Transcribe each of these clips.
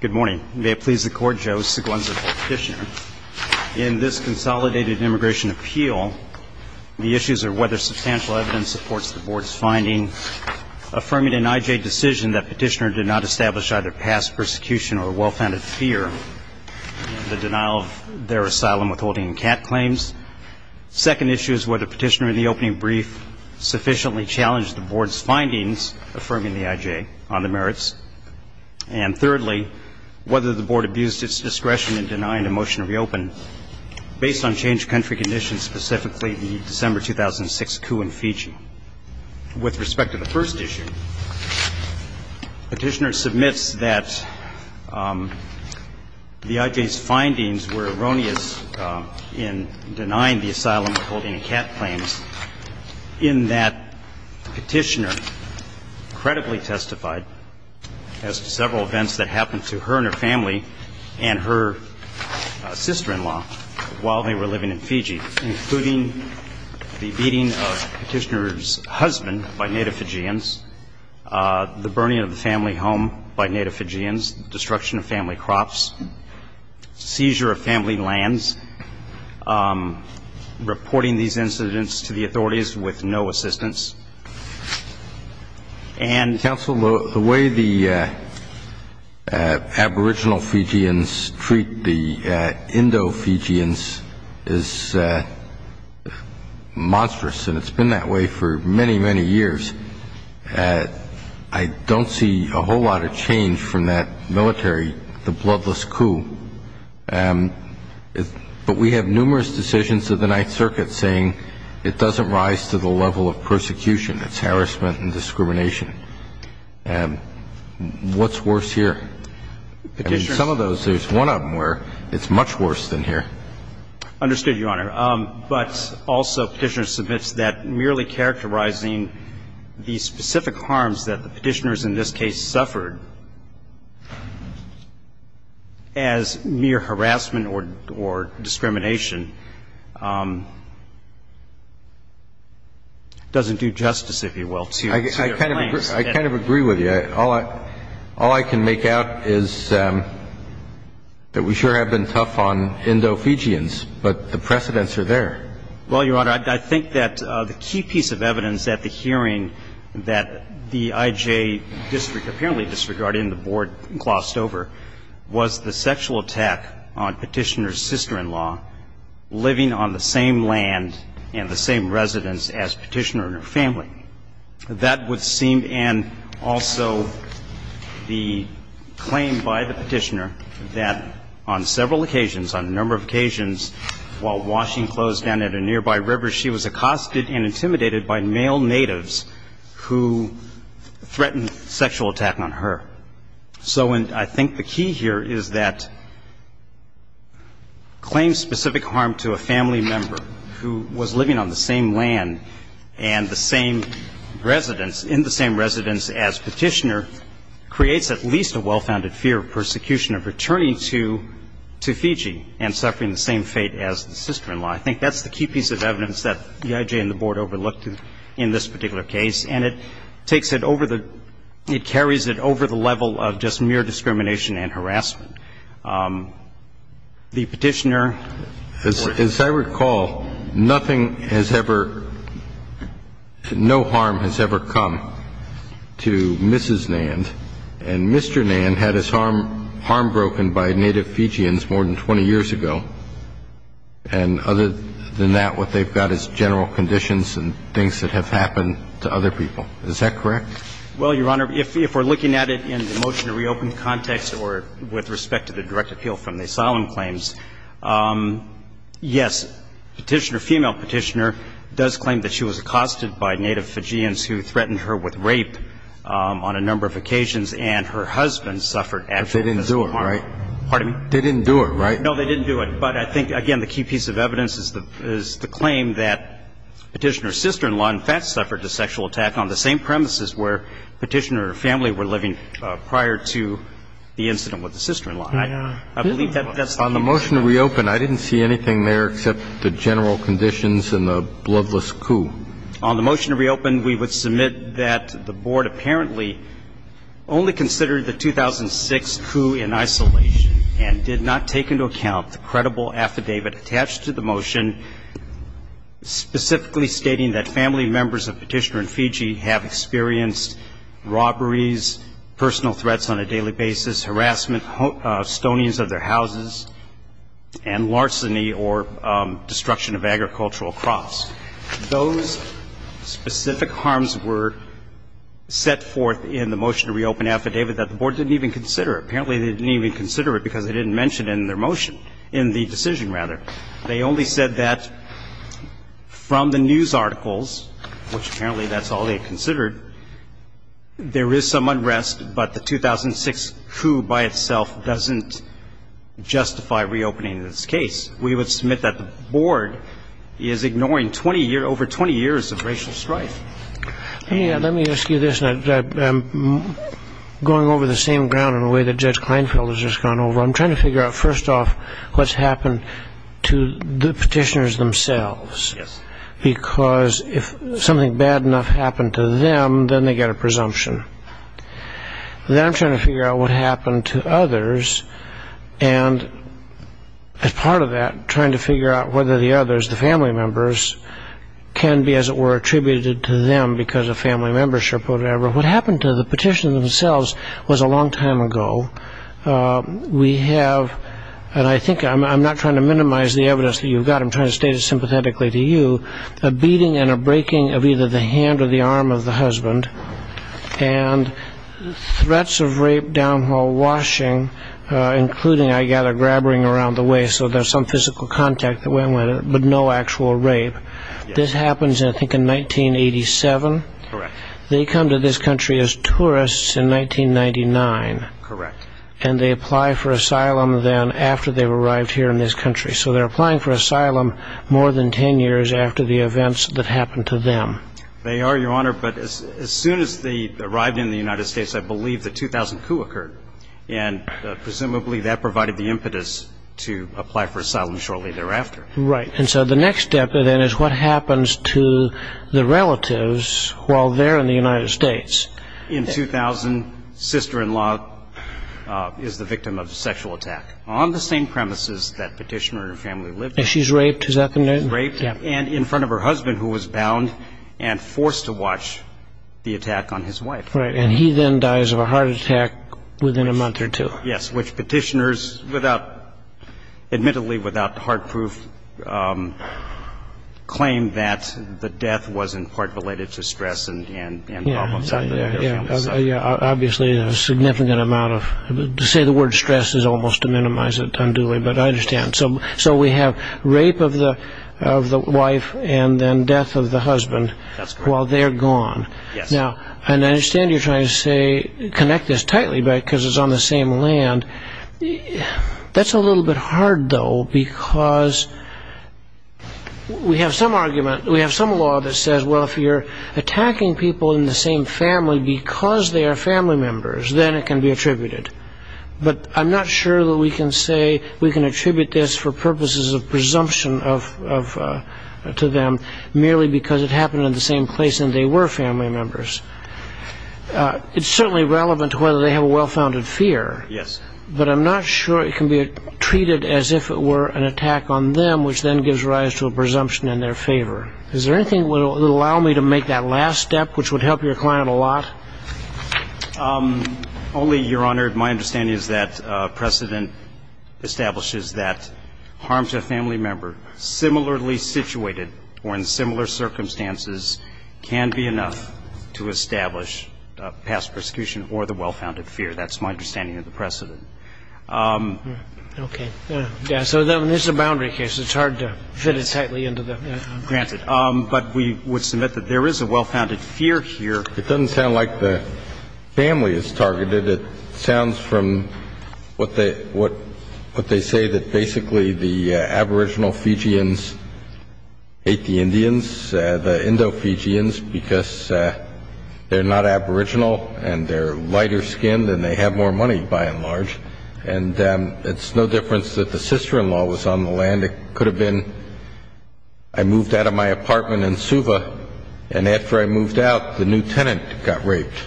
Good morning. May it please the Court, Joe Seguenza, Petitioner. In this Consolidated Immigration Appeal, the issues are whether substantial evidence supports the Board's finding affirming an IJ decision that Petitioner did not establish either past persecution or well-founded fear in the denial of their asylum withholding CAT claims. Second issue is whether Petitioner in the opening brief sufficiently challenged the Board's findings affirming the IJ on the merits. And thirdly, whether the Board abused its discretion in denying a motion to reopen based on change of country conditions, specifically the December 2006 coup in Fiji. With respect to the first issue, Petitioner submits that the IJ's findings were erroneous in denying the asylum withholding CAT claims in that Petitioner credibly testified as to several events that happened to her and her family and her sister-in-law while they were living in Fiji, including the beating of Petitioner's husband by Native Fijians, the burning of the family home by authorities with no assistance. And the way the aboriginal Fijians treat the Indo-Fijians is monstrous, and it's been that way for many, many years. I don't see a whole lot of change from that military, the bloodless coup. But we have numerous decisions of the Ninth Circuit saying it doesn't rise to the level of persecution. It's harassment and discrimination. And what's worse here? I mean, some of those, there's one of them where it's much worse than here. Understood, Your Honor. But also Petitioner submits that merely characterizing the specific harms that the Petitioners in this case suffered as mere harassment or discrimination doesn't do justice, if you will, to their claims. I kind of agree with you. All I can make out is that we sure have been tough on Indo-Fijians, but the precedents are there. Well, Your Honor, I think that the key piece of evidence at the hearing that the I.J. District apparently disregarded and the Board glossed over was the sexual attack on Petitioner's sister-in-law living on the same land and the same residence as Petitioner and her family. That would seem, and also the claim by the Petitioner that on several occasions, on a number of occasions, while washing clothes down at a nearby river, she was accosted and sexual attacked on her. So I think the key here is that claim specific harm to a family member who was living on the same land and the same residence, in the same residence as Petitioner, creates at least a well-founded fear of persecution of returning to Fiji and suffering the same fate as the sister-in-law. I think that's the key piece of evidence that the I.J. and the Board overlooked in this particular case. And it takes it over the, it carries it over the level of just mere discrimination and harassment. The Petitioner. As I recall, nothing has ever, no harm has ever come to Mrs. Nand. And Mr. Nand had his harm broken by native Fijians more than 20 years ago. And other than that, what they've got is general conditions and things that have happened to other people. Is that correct? Well, Your Honor, if we're looking at it in the motion to reopen context or with respect to the direct appeal from the asylum claims, yes, Petitioner, female Petitioner, does claim that she was accosted by native Fijians who threatened her with rape on a number of occasions, and her husband suffered actual physical harm. But they didn't do it, right? Pardon me? They didn't do it, right? No, they didn't do it. But I think, again, the key piece of evidence is the claim that Petitioner's sister-in-law in fact suffered a sexual attack on the same premises where Petitioner's family were living prior to the incident with the sister-in-law. I believe that's the case. On the motion to reopen, I didn't see anything there except the general conditions and the bloodless coup. On the motion to reopen, we would submit that the Board apparently only considered the 2006 coup in isolation and did not take into account the credible affidavit attached to the motion specifically stating that family members of Petitioner and Fiji have experienced robberies, personal threats on a daily basis, harassment, stonings of their houses, and larceny or destruction of agricultural crops. Those specific harms were set forth in the motion to reopen affidavit that the Board didn't even consider. Apparently they didn't even consider it because they didn't mention it in their motion, in the decision, rather. They only said that from the news articles, which apparently that's all they considered, there is some unrest, but the 2006 coup by itself doesn't justify reopening this case. We would submit that the Board is ignoring over 20 years of racial strife. Let me ask you this, and I'm going over the same ground in a way that Judge Kleinfeld has just gone over. I'm trying to figure out, first off, what's happened to the Petitioners themselves, because if something bad enough happened to them, then they get a presumption. Then I'm trying to figure out what happened to others, and as part of that, trying to figure out whether the others, the family members, can be, as it were, attributed to them because of family membership or whatever. What happened to the Petitioners themselves was a long time ago. We have, and I think I'm not trying to minimize the evidence that you've got, I'm trying to state it sympathetically to you, a beating and a breaking of either the hand or the arm of the husband, and threats of rape down while washing, including, I gather, grabbering around the waist, so there's some physical contact, but no actual rape. This happens, I think, in 1987. Correct. They come to this country as tourists in 1999. Correct. And they apply for asylum then after they've arrived here in this country. So they're applying for asylum more than ten years after the events that happened to them. They are, Your Honor, but as soon as they arrived in the United States, I believe the 2000 coup occurred, and presumably that provided the impetus to apply for asylum shortly thereafter. Right, and so the next step, then, is what happens to the relatives while they're in the United States. In 2000, sister-in-law is the victim of a sexual attack on the same premises that Petitioner and her family lived in. And she's raped, is that the name? Raped, and in front of her husband, who was bound and forced to watch the attack on his wife. Right, and he then dies of a heart attack within a month or two. Yes, which Petitioner, admittedly without hard proof, claimed that the death was in part related to stress and problems. Yeah, obviously a significant amount of, to say the word stress is almost to minimize it unduly, but I understand. So we have rape of the wife and then death of the husband while they're gone. Yes. Now, and I understand you're trying to say connect this tightly because it's on the same land. That's a little bit hard, though, because we have some argument, we have some law that says, well, if you're attacking people in the same family because they are family members, then it can be attributed. But I'm not sure that we can say we can attribute this for purposes of presumption to them merely because it happened in the same place and they were family members. It's certainly relevant to whether they have a well-founded fear. Yes. But I'm not sure it can be treated as if it were an attack on them, which then gives rise to a presumption in their favor. Is there anything that would allow me to make that last step, which would help your client a lot? Only, Your Honor, my understanding is that precedent establishes that harm to a family member similarly situated or in similar circumstances can be enough to establish past prosecution or the well-founded fear. That's my understanding of the precedent. Okay. Yeah. So then this is a boundary case. It's hard to fit it tightly into the... Granted. But we would submit that there is a well-founded fear here. It doesn't sound like the family is targeted. It sounds from what they say that basically the aboriginal Fijians hate the Indians, the Indo-Fijians, because they're not aboriginal and they're lighter skinned and they have more money, by and large. And it's no difference that the sister-in-law was on the land. It could have been I moved out of my apartment in Suva and after I moved out, the new tenant got raped.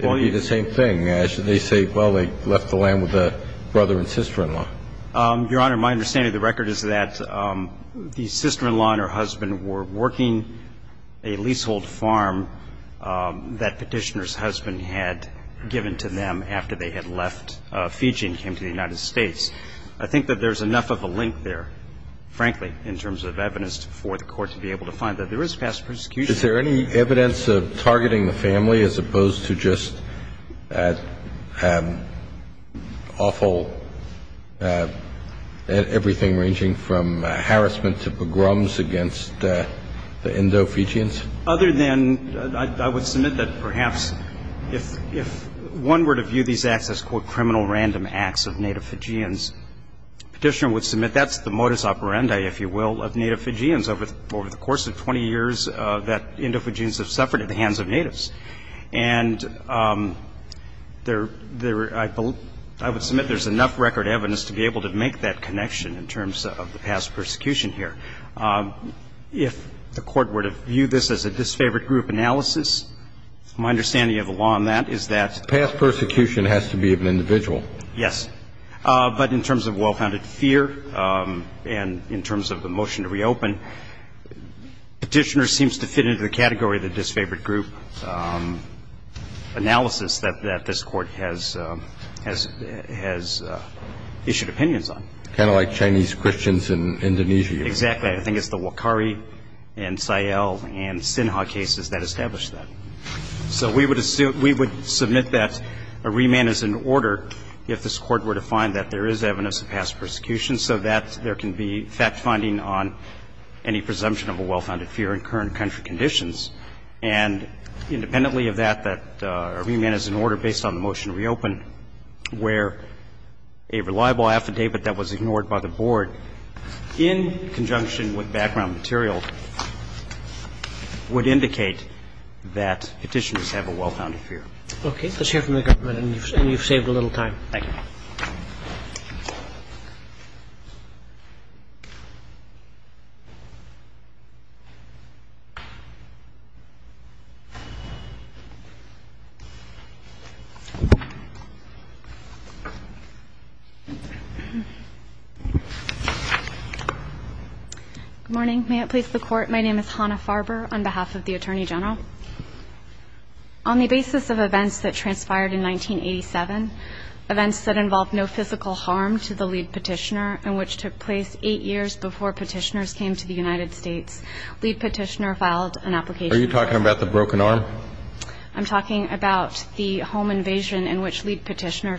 It would be the same thing. They say, well, they left the land with a brother and sister-in-law. Your Honor, my understanding of the record is that the sister-in-law and her husband were working a leasehold farm that petitioner's husband had given to them after they had left Fiji and came to the United States. I think that there's enough of a link there, frankly, in terms of evidence for the court to be able to find that there is past prosecution. Is there any evidence of targeting the family as opposed to just awful, everything ranging from harassment to pogroms against the Indo-Fijians? Other than I would submit that perhaps if one were to view these acts as, quote, criminal random acts of native Fijians, petitioner would submit that's the modus operandi, if you will, of native Fijians over the course of 20 years that Indo-Fijians have suffered at the hands of natives. And I would submit there's enough record evidence to be able to make that connection in terms of the past persecution here. If the court were to view this as a disfavored group analysis, my understanding of the law on that is that the past persecution has to be of an individual. Yes. But in terms of well-founded fear and in terms of the motion to reopen, petitioner seems to fit into the category of the disfavored group analysis that this court has issued opinions on. Kind of like Chinese Christians in Indonesia. Exactly. I think it's the Wakari and Sayel and Sinha cases that established that. So we would submit that a remand is in order if this court were to find that there is evidence of past persecution so that there can be fact-finding on any presumption of a well-founded fear in current country conditions. And independently of that, that a remand is in order based on the motion to reopen where a reliable affidavit that was ignored by the board in conjunction with background material would indicate that petitioners have a well-founded fear. Okay. Let's hear from the government. And you've saved a little time. Thank you. Good morning. May it please the court. My name is Hannah Farber on behalf of the Attorney General. On the basis of events that transpired in 1987, events that involved no physical harm to the lead petitioner and which took place eight years before petitioners came to the United States, lead petitioner filed an application. Are you talking about the broken arm? I'm talking about the home invasion in which lead petitioner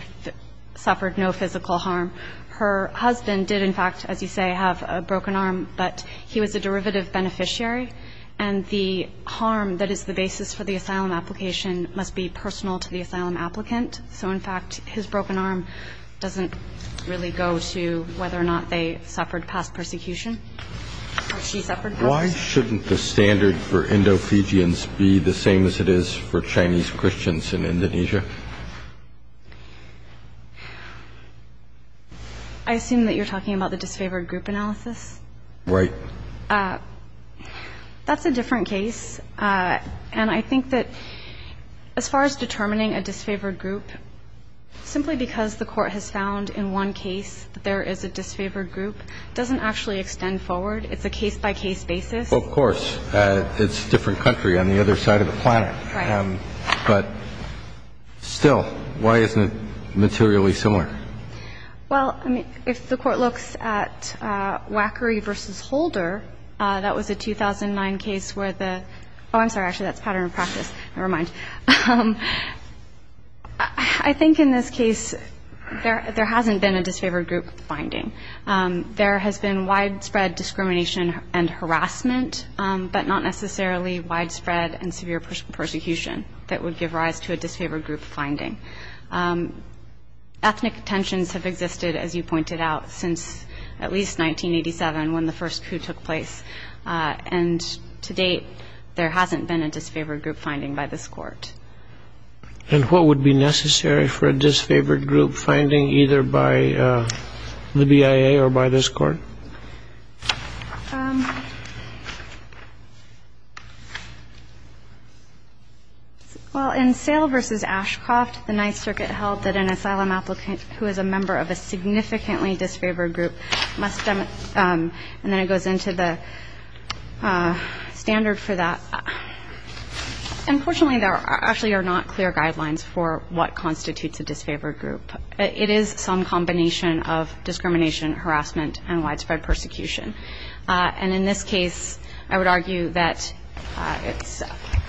suffered no physical harm. Her husband did, in fact, as you say, have a broken arm. But he was a derivative beneficiary. And the harm that is the basis for the asylum application must be personal to the asylum applicant. So, in fact, his broken arm doesn't really go to whether or not they suffered past persecution or she suffered. Why shouldn't the standard for Indo-Fijians be the same as it is for Chinese Christians in Indonesia? I assume that you're talking about the disfavored group analysis. Right. That's a different case. And I think that as far as determining a disfavored group, simply because the Court has found in one case that there is a disfavored group doesn't actually extend forward. It's a case-by-case basis. Well, of course. It's a different country on the other side of the planet. Right. But still, why isn't it materially similar? Well, I mean, if the Court looks at Wackery v. Holder, that was a 2009 case where the Oh, I'm sorry. Actually, that's pattern of practice. Never mind. I think in this case there hasn't been a disfavored group finding. There has been widespread discrimination and harassment, but not necessarily widespread and severe persecution that would give rise to a disfavored group finding. Ethnic tensions have existed, as you pointed out, since at least 1987 when the first coup took place. And to date, there hasn't been a disfavored group finding by this Court. And what would be necessary for a disfavored group finding, either by the BIA or by this Court? Well, in Sale v. Ashcroft, the Ninth Circuit held that an asylum applicant who is a member of a significantly disfavored group must demonstrate, and then it goes into the standard for that. Unfortunately, there actually are not clear guidelines for what constitutes a disfavored group. It is some combination of discrimination, harassment, and widespread persecution. And in this case, I would argue that it's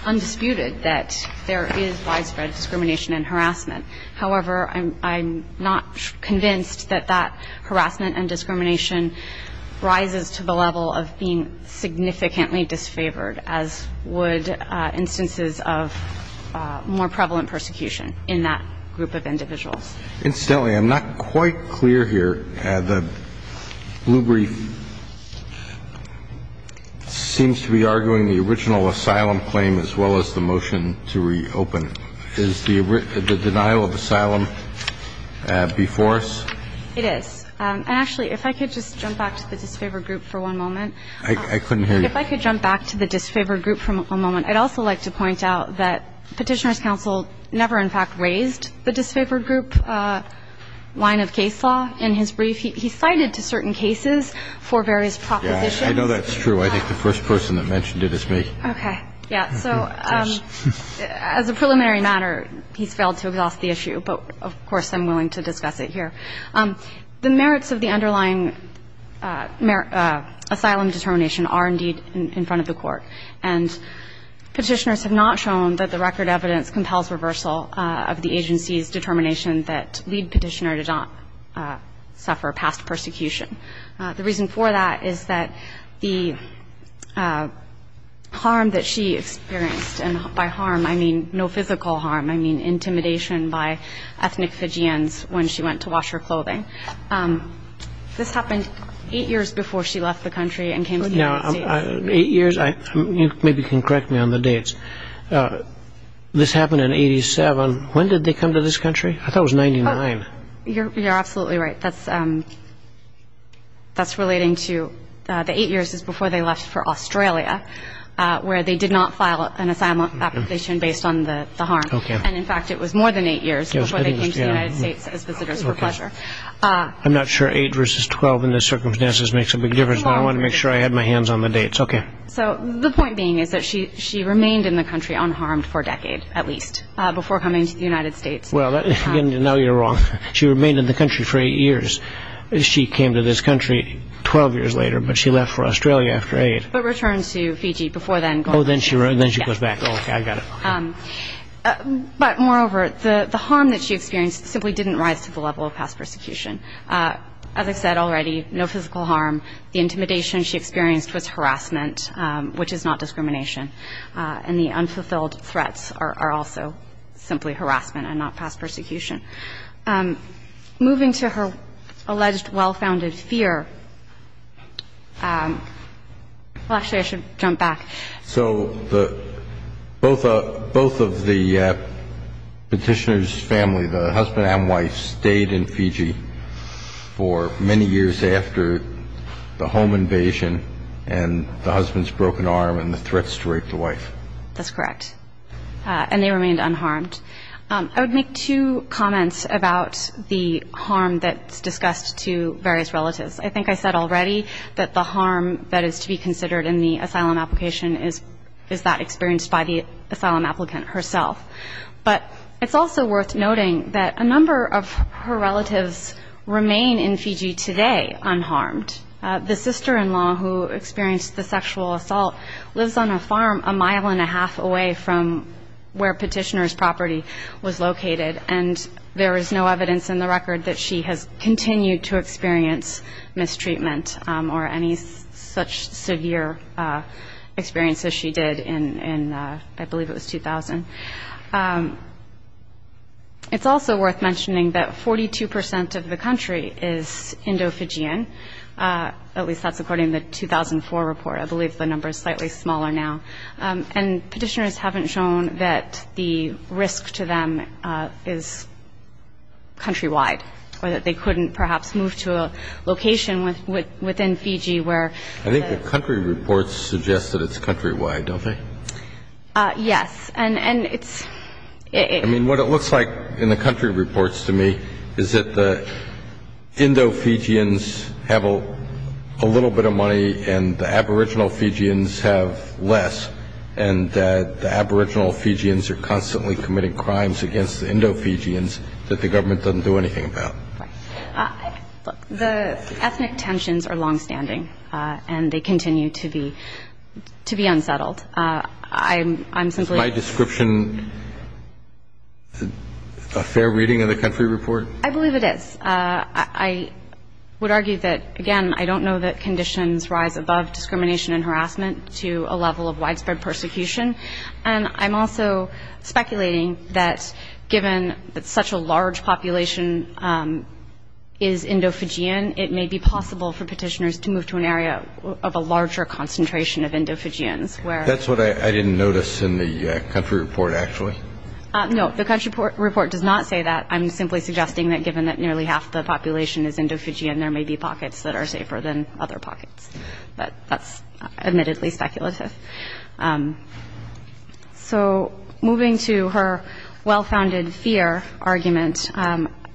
undisputed that there is widespread discrimination and harassment. However, I'm not convinced that that harassment and discrimination rises to the level of being significantly disfavored, as would instances of more prevalent persecution in that group of individuals. Incidentally, I'm not quite clear here. The blue brief seems to be arguing the original asylum claim as well as the motion to reopen. Is the denial of asylum before us? It is. And actually, if I could just jump back to the disfavored group for one moment. I couldn't hear you. If I could jump back to the disfavored group for one moment, I'd also like to point out that Petitioner's Counsel never in fact raised the disfavored group line of case law in his brief. He cited certain cases for various propositions. Yeah, I know that's true. I think the first person that mentioned it is me. Okay. Yeah. So as a preliminary matter, he's failed to exhaust the issue. But of course, I'm willing to discuss it here. The merits of the underlying asylum determination are indeed in front of the Court. And Petitioners have not shown that the record evidence compels reversal of the agency's determination that Lead Petitioner did not suffer past persecution. The reason for that is that the harm that she experienced, and by harm I mean no physical harm, I mean intimidation by ethnic Fijians when she went to wash her clothing. This happened eight years before she left the country and came to the United States. Eight years? You maybe can correct me on the dates. This happened in 87. When did they come to this country? I thought it was 99. You're absolutely right. That's relating to the eight years before they left for Australia, where they did not file an asylum application based on the harm. Okay. And in fact, it was more than eight years before they came to the United States as visitors for pleasure. I'm not sure eight versus 12 in this circumstance makes a big difference. I want to make sure I have my hands on the dates. Okay. So the point being is that she remained in the country unharmed for a decade, at least, before coming to the United States. Well, now you're wrong. She remained in the country for eight years. She came to this country 12 years later, but she left for Australia after eight. But returned to Fiji before then. Oh, then she goes back. Oh, okay. I got it. But moreover, the harm that she experienced simply didn't rise to the level of past persecution. As I said already, no physical harm. The intimidation she experienced was harassment, which is not discrimination. And the unfulfilled threats are also simply harassment and not past persecution. Moving to her alleged well-founded fear, well, actually, I should jump back. So both of the petitioner's family, the husband and wife, stayed in Fiji for many years after the home invasion and the husband's broken arm and the threats to rape the wife. That's correct. And they remained unharmed. I would make two comments about the harm that's discussed to various relatives. I think I said already that the harm that is to be considered in the asylum application is that experienced by the asylum applicant herself. But it's also worth noting that a number of her relatives remain in Fiji today unharmed. The sister-in-law who experienced the sexual assault lives on a farm a mile and a half away from where petitioner's property was located. And there is no evidence in the record that she has continued to experience mistreatment or any such severe experience as she did in, I believe, it was 2000. It's also worth mentioning that 42% of the country is Indo-Fijian, at least that's according to the 2004 report. I believe the number is slightly smaller now. And petitioners haven't shown that the risk to them is countrywide or that they couldn't perhaps move to a location within Fiji where... I think the country reports suggest that it's countrywide, don't they? Yes, and it's... I mean what it looks like in the country reports to me is that the Indo-Fijians have a little bit of money and the aboriginal Fijians have less and that the aboriginal Fijians are constantly committing crimes against the Indo-Fijians that the government doesn't do anything about. Look, the ethnic tensions are longstanding and they continue to be unsettled. I'm simply... Is my description a fair reading of the country report? I believe it is. I would argue that, again, I don't know that conditions rise above discrimination and harassment to a level of widespread persecution and I'm also speculating that given that such a large population is Indo-Fijian it may be possible for petitioners to move to an area of a larger concentration of Indo-Fijians where... That's what I didn't notice in the country report actually. No, the country report does not say that. I'm simply suggesting that given that nearly half the population is Indo-Fijian there may be pockets that are safer than other pockets but that's admittedly speculative. So moving to her well-founded fear argument,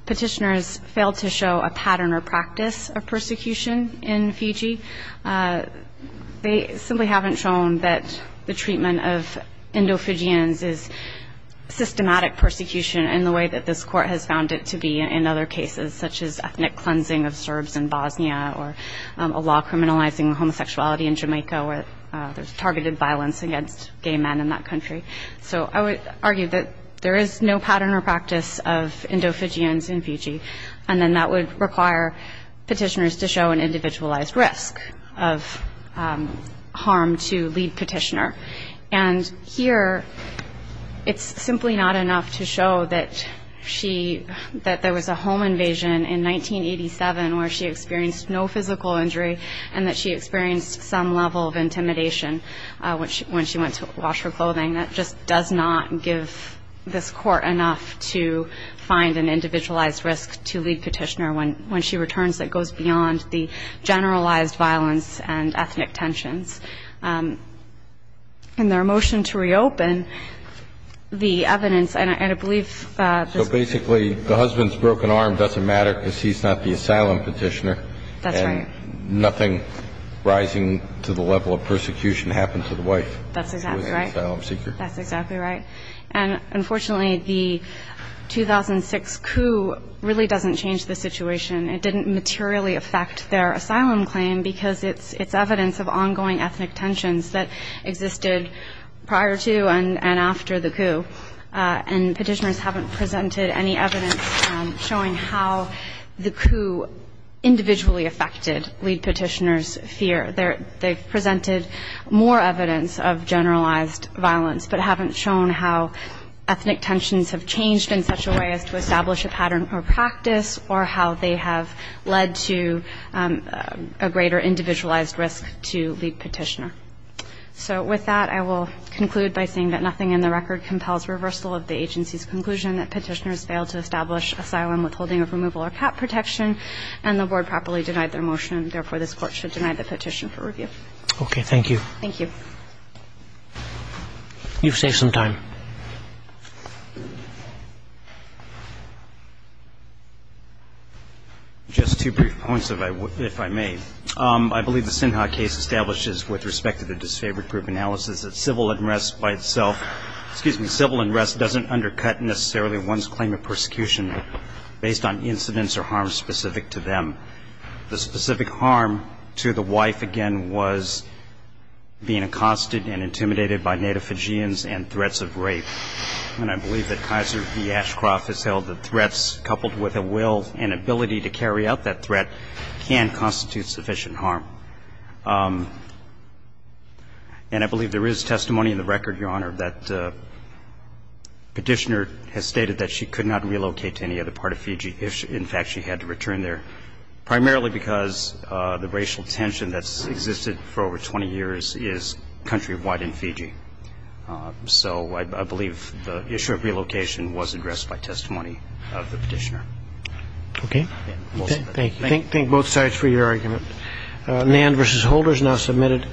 petitioners failed to show a pattern or practice of persecution in Fiji. They simply haven't shown that the treatment of Indo-Fijians is systematic persecution in the way that this court has found it to be in other cases such as ethnic cleansing of Serbs in Bosnia or a law criminalizing homosexuality in Jamaica where there's targeted violence against gay men in that country. So I would argue that there is no pattern or practice of Indo-Fijians in Fiji and then that would require petitioners to show an individualized risk of harm to lead petitioner. And here it's simply not enough to show that there was a home invasion in 1987 where she experienced no physical injury and that she experienced some level of intimidation when she went to wash her clothing. That just does not give this court enough to find an individualized risk to lead petitioner when she returns that goes beyond the generalized violence and ethnic tensions. In their motion to reopen the evidence and I believe So basically the husband's broken arm doesn't matter because he's not the asylum petitioner That's right and nothing rising to the level of persecution happened to the wife That's exactly right who was the asylum seeker That's exactly right and unfortunately the 2006 coup really doesn't change the situation it didn't materially affect their asylum claim because it's evidence of ongoing ethnic tensions that existed prior to and after the coup and petitioners haven't presented any evidence showing how the coup individually affected lead petitioner's fear They've presented more evidence of generalized violence but haven't shown how ethnic tensions have changed in such a way as to establish a pattern of practice or how they have led to a greater individualized risk to lead petitioner So with that I will conclude by saying that nothing in the record compels reversal of the agency's conclusion that petitioners failed to establish asylum withholding of removal or cap protection and the board properly denied their motion therefore this court should deny the petition for review Okay, thank you Thank you You've saved some time Just two brief points if I may I believe the Sinha case establishes with respect to the disfavored group analysis that civil unrest by itself excuse me, civil unrest doesn't undercut necessarily one's claim of persecution based on incidents or harms specific to them The specific harm to the wife again was being accosted and intimidated by native Fijians and threats of rape and I believe that Kaiser v. Ashcroft has held that threats coupled with a will and ability to carry out that threat can constitute sufficient harm And I believe there is testimony in the record Your Honor, that petitioner has stated that she could not relocate to any other part of Fiji in fact she had to return there primarily because the racial tension that's existed for over 20 years is countrywide in Fiji So I believe the issue of relocation was addressed by testimony of the petitioner Thank you Thank both sides for your argument Nand v. Holders now submitted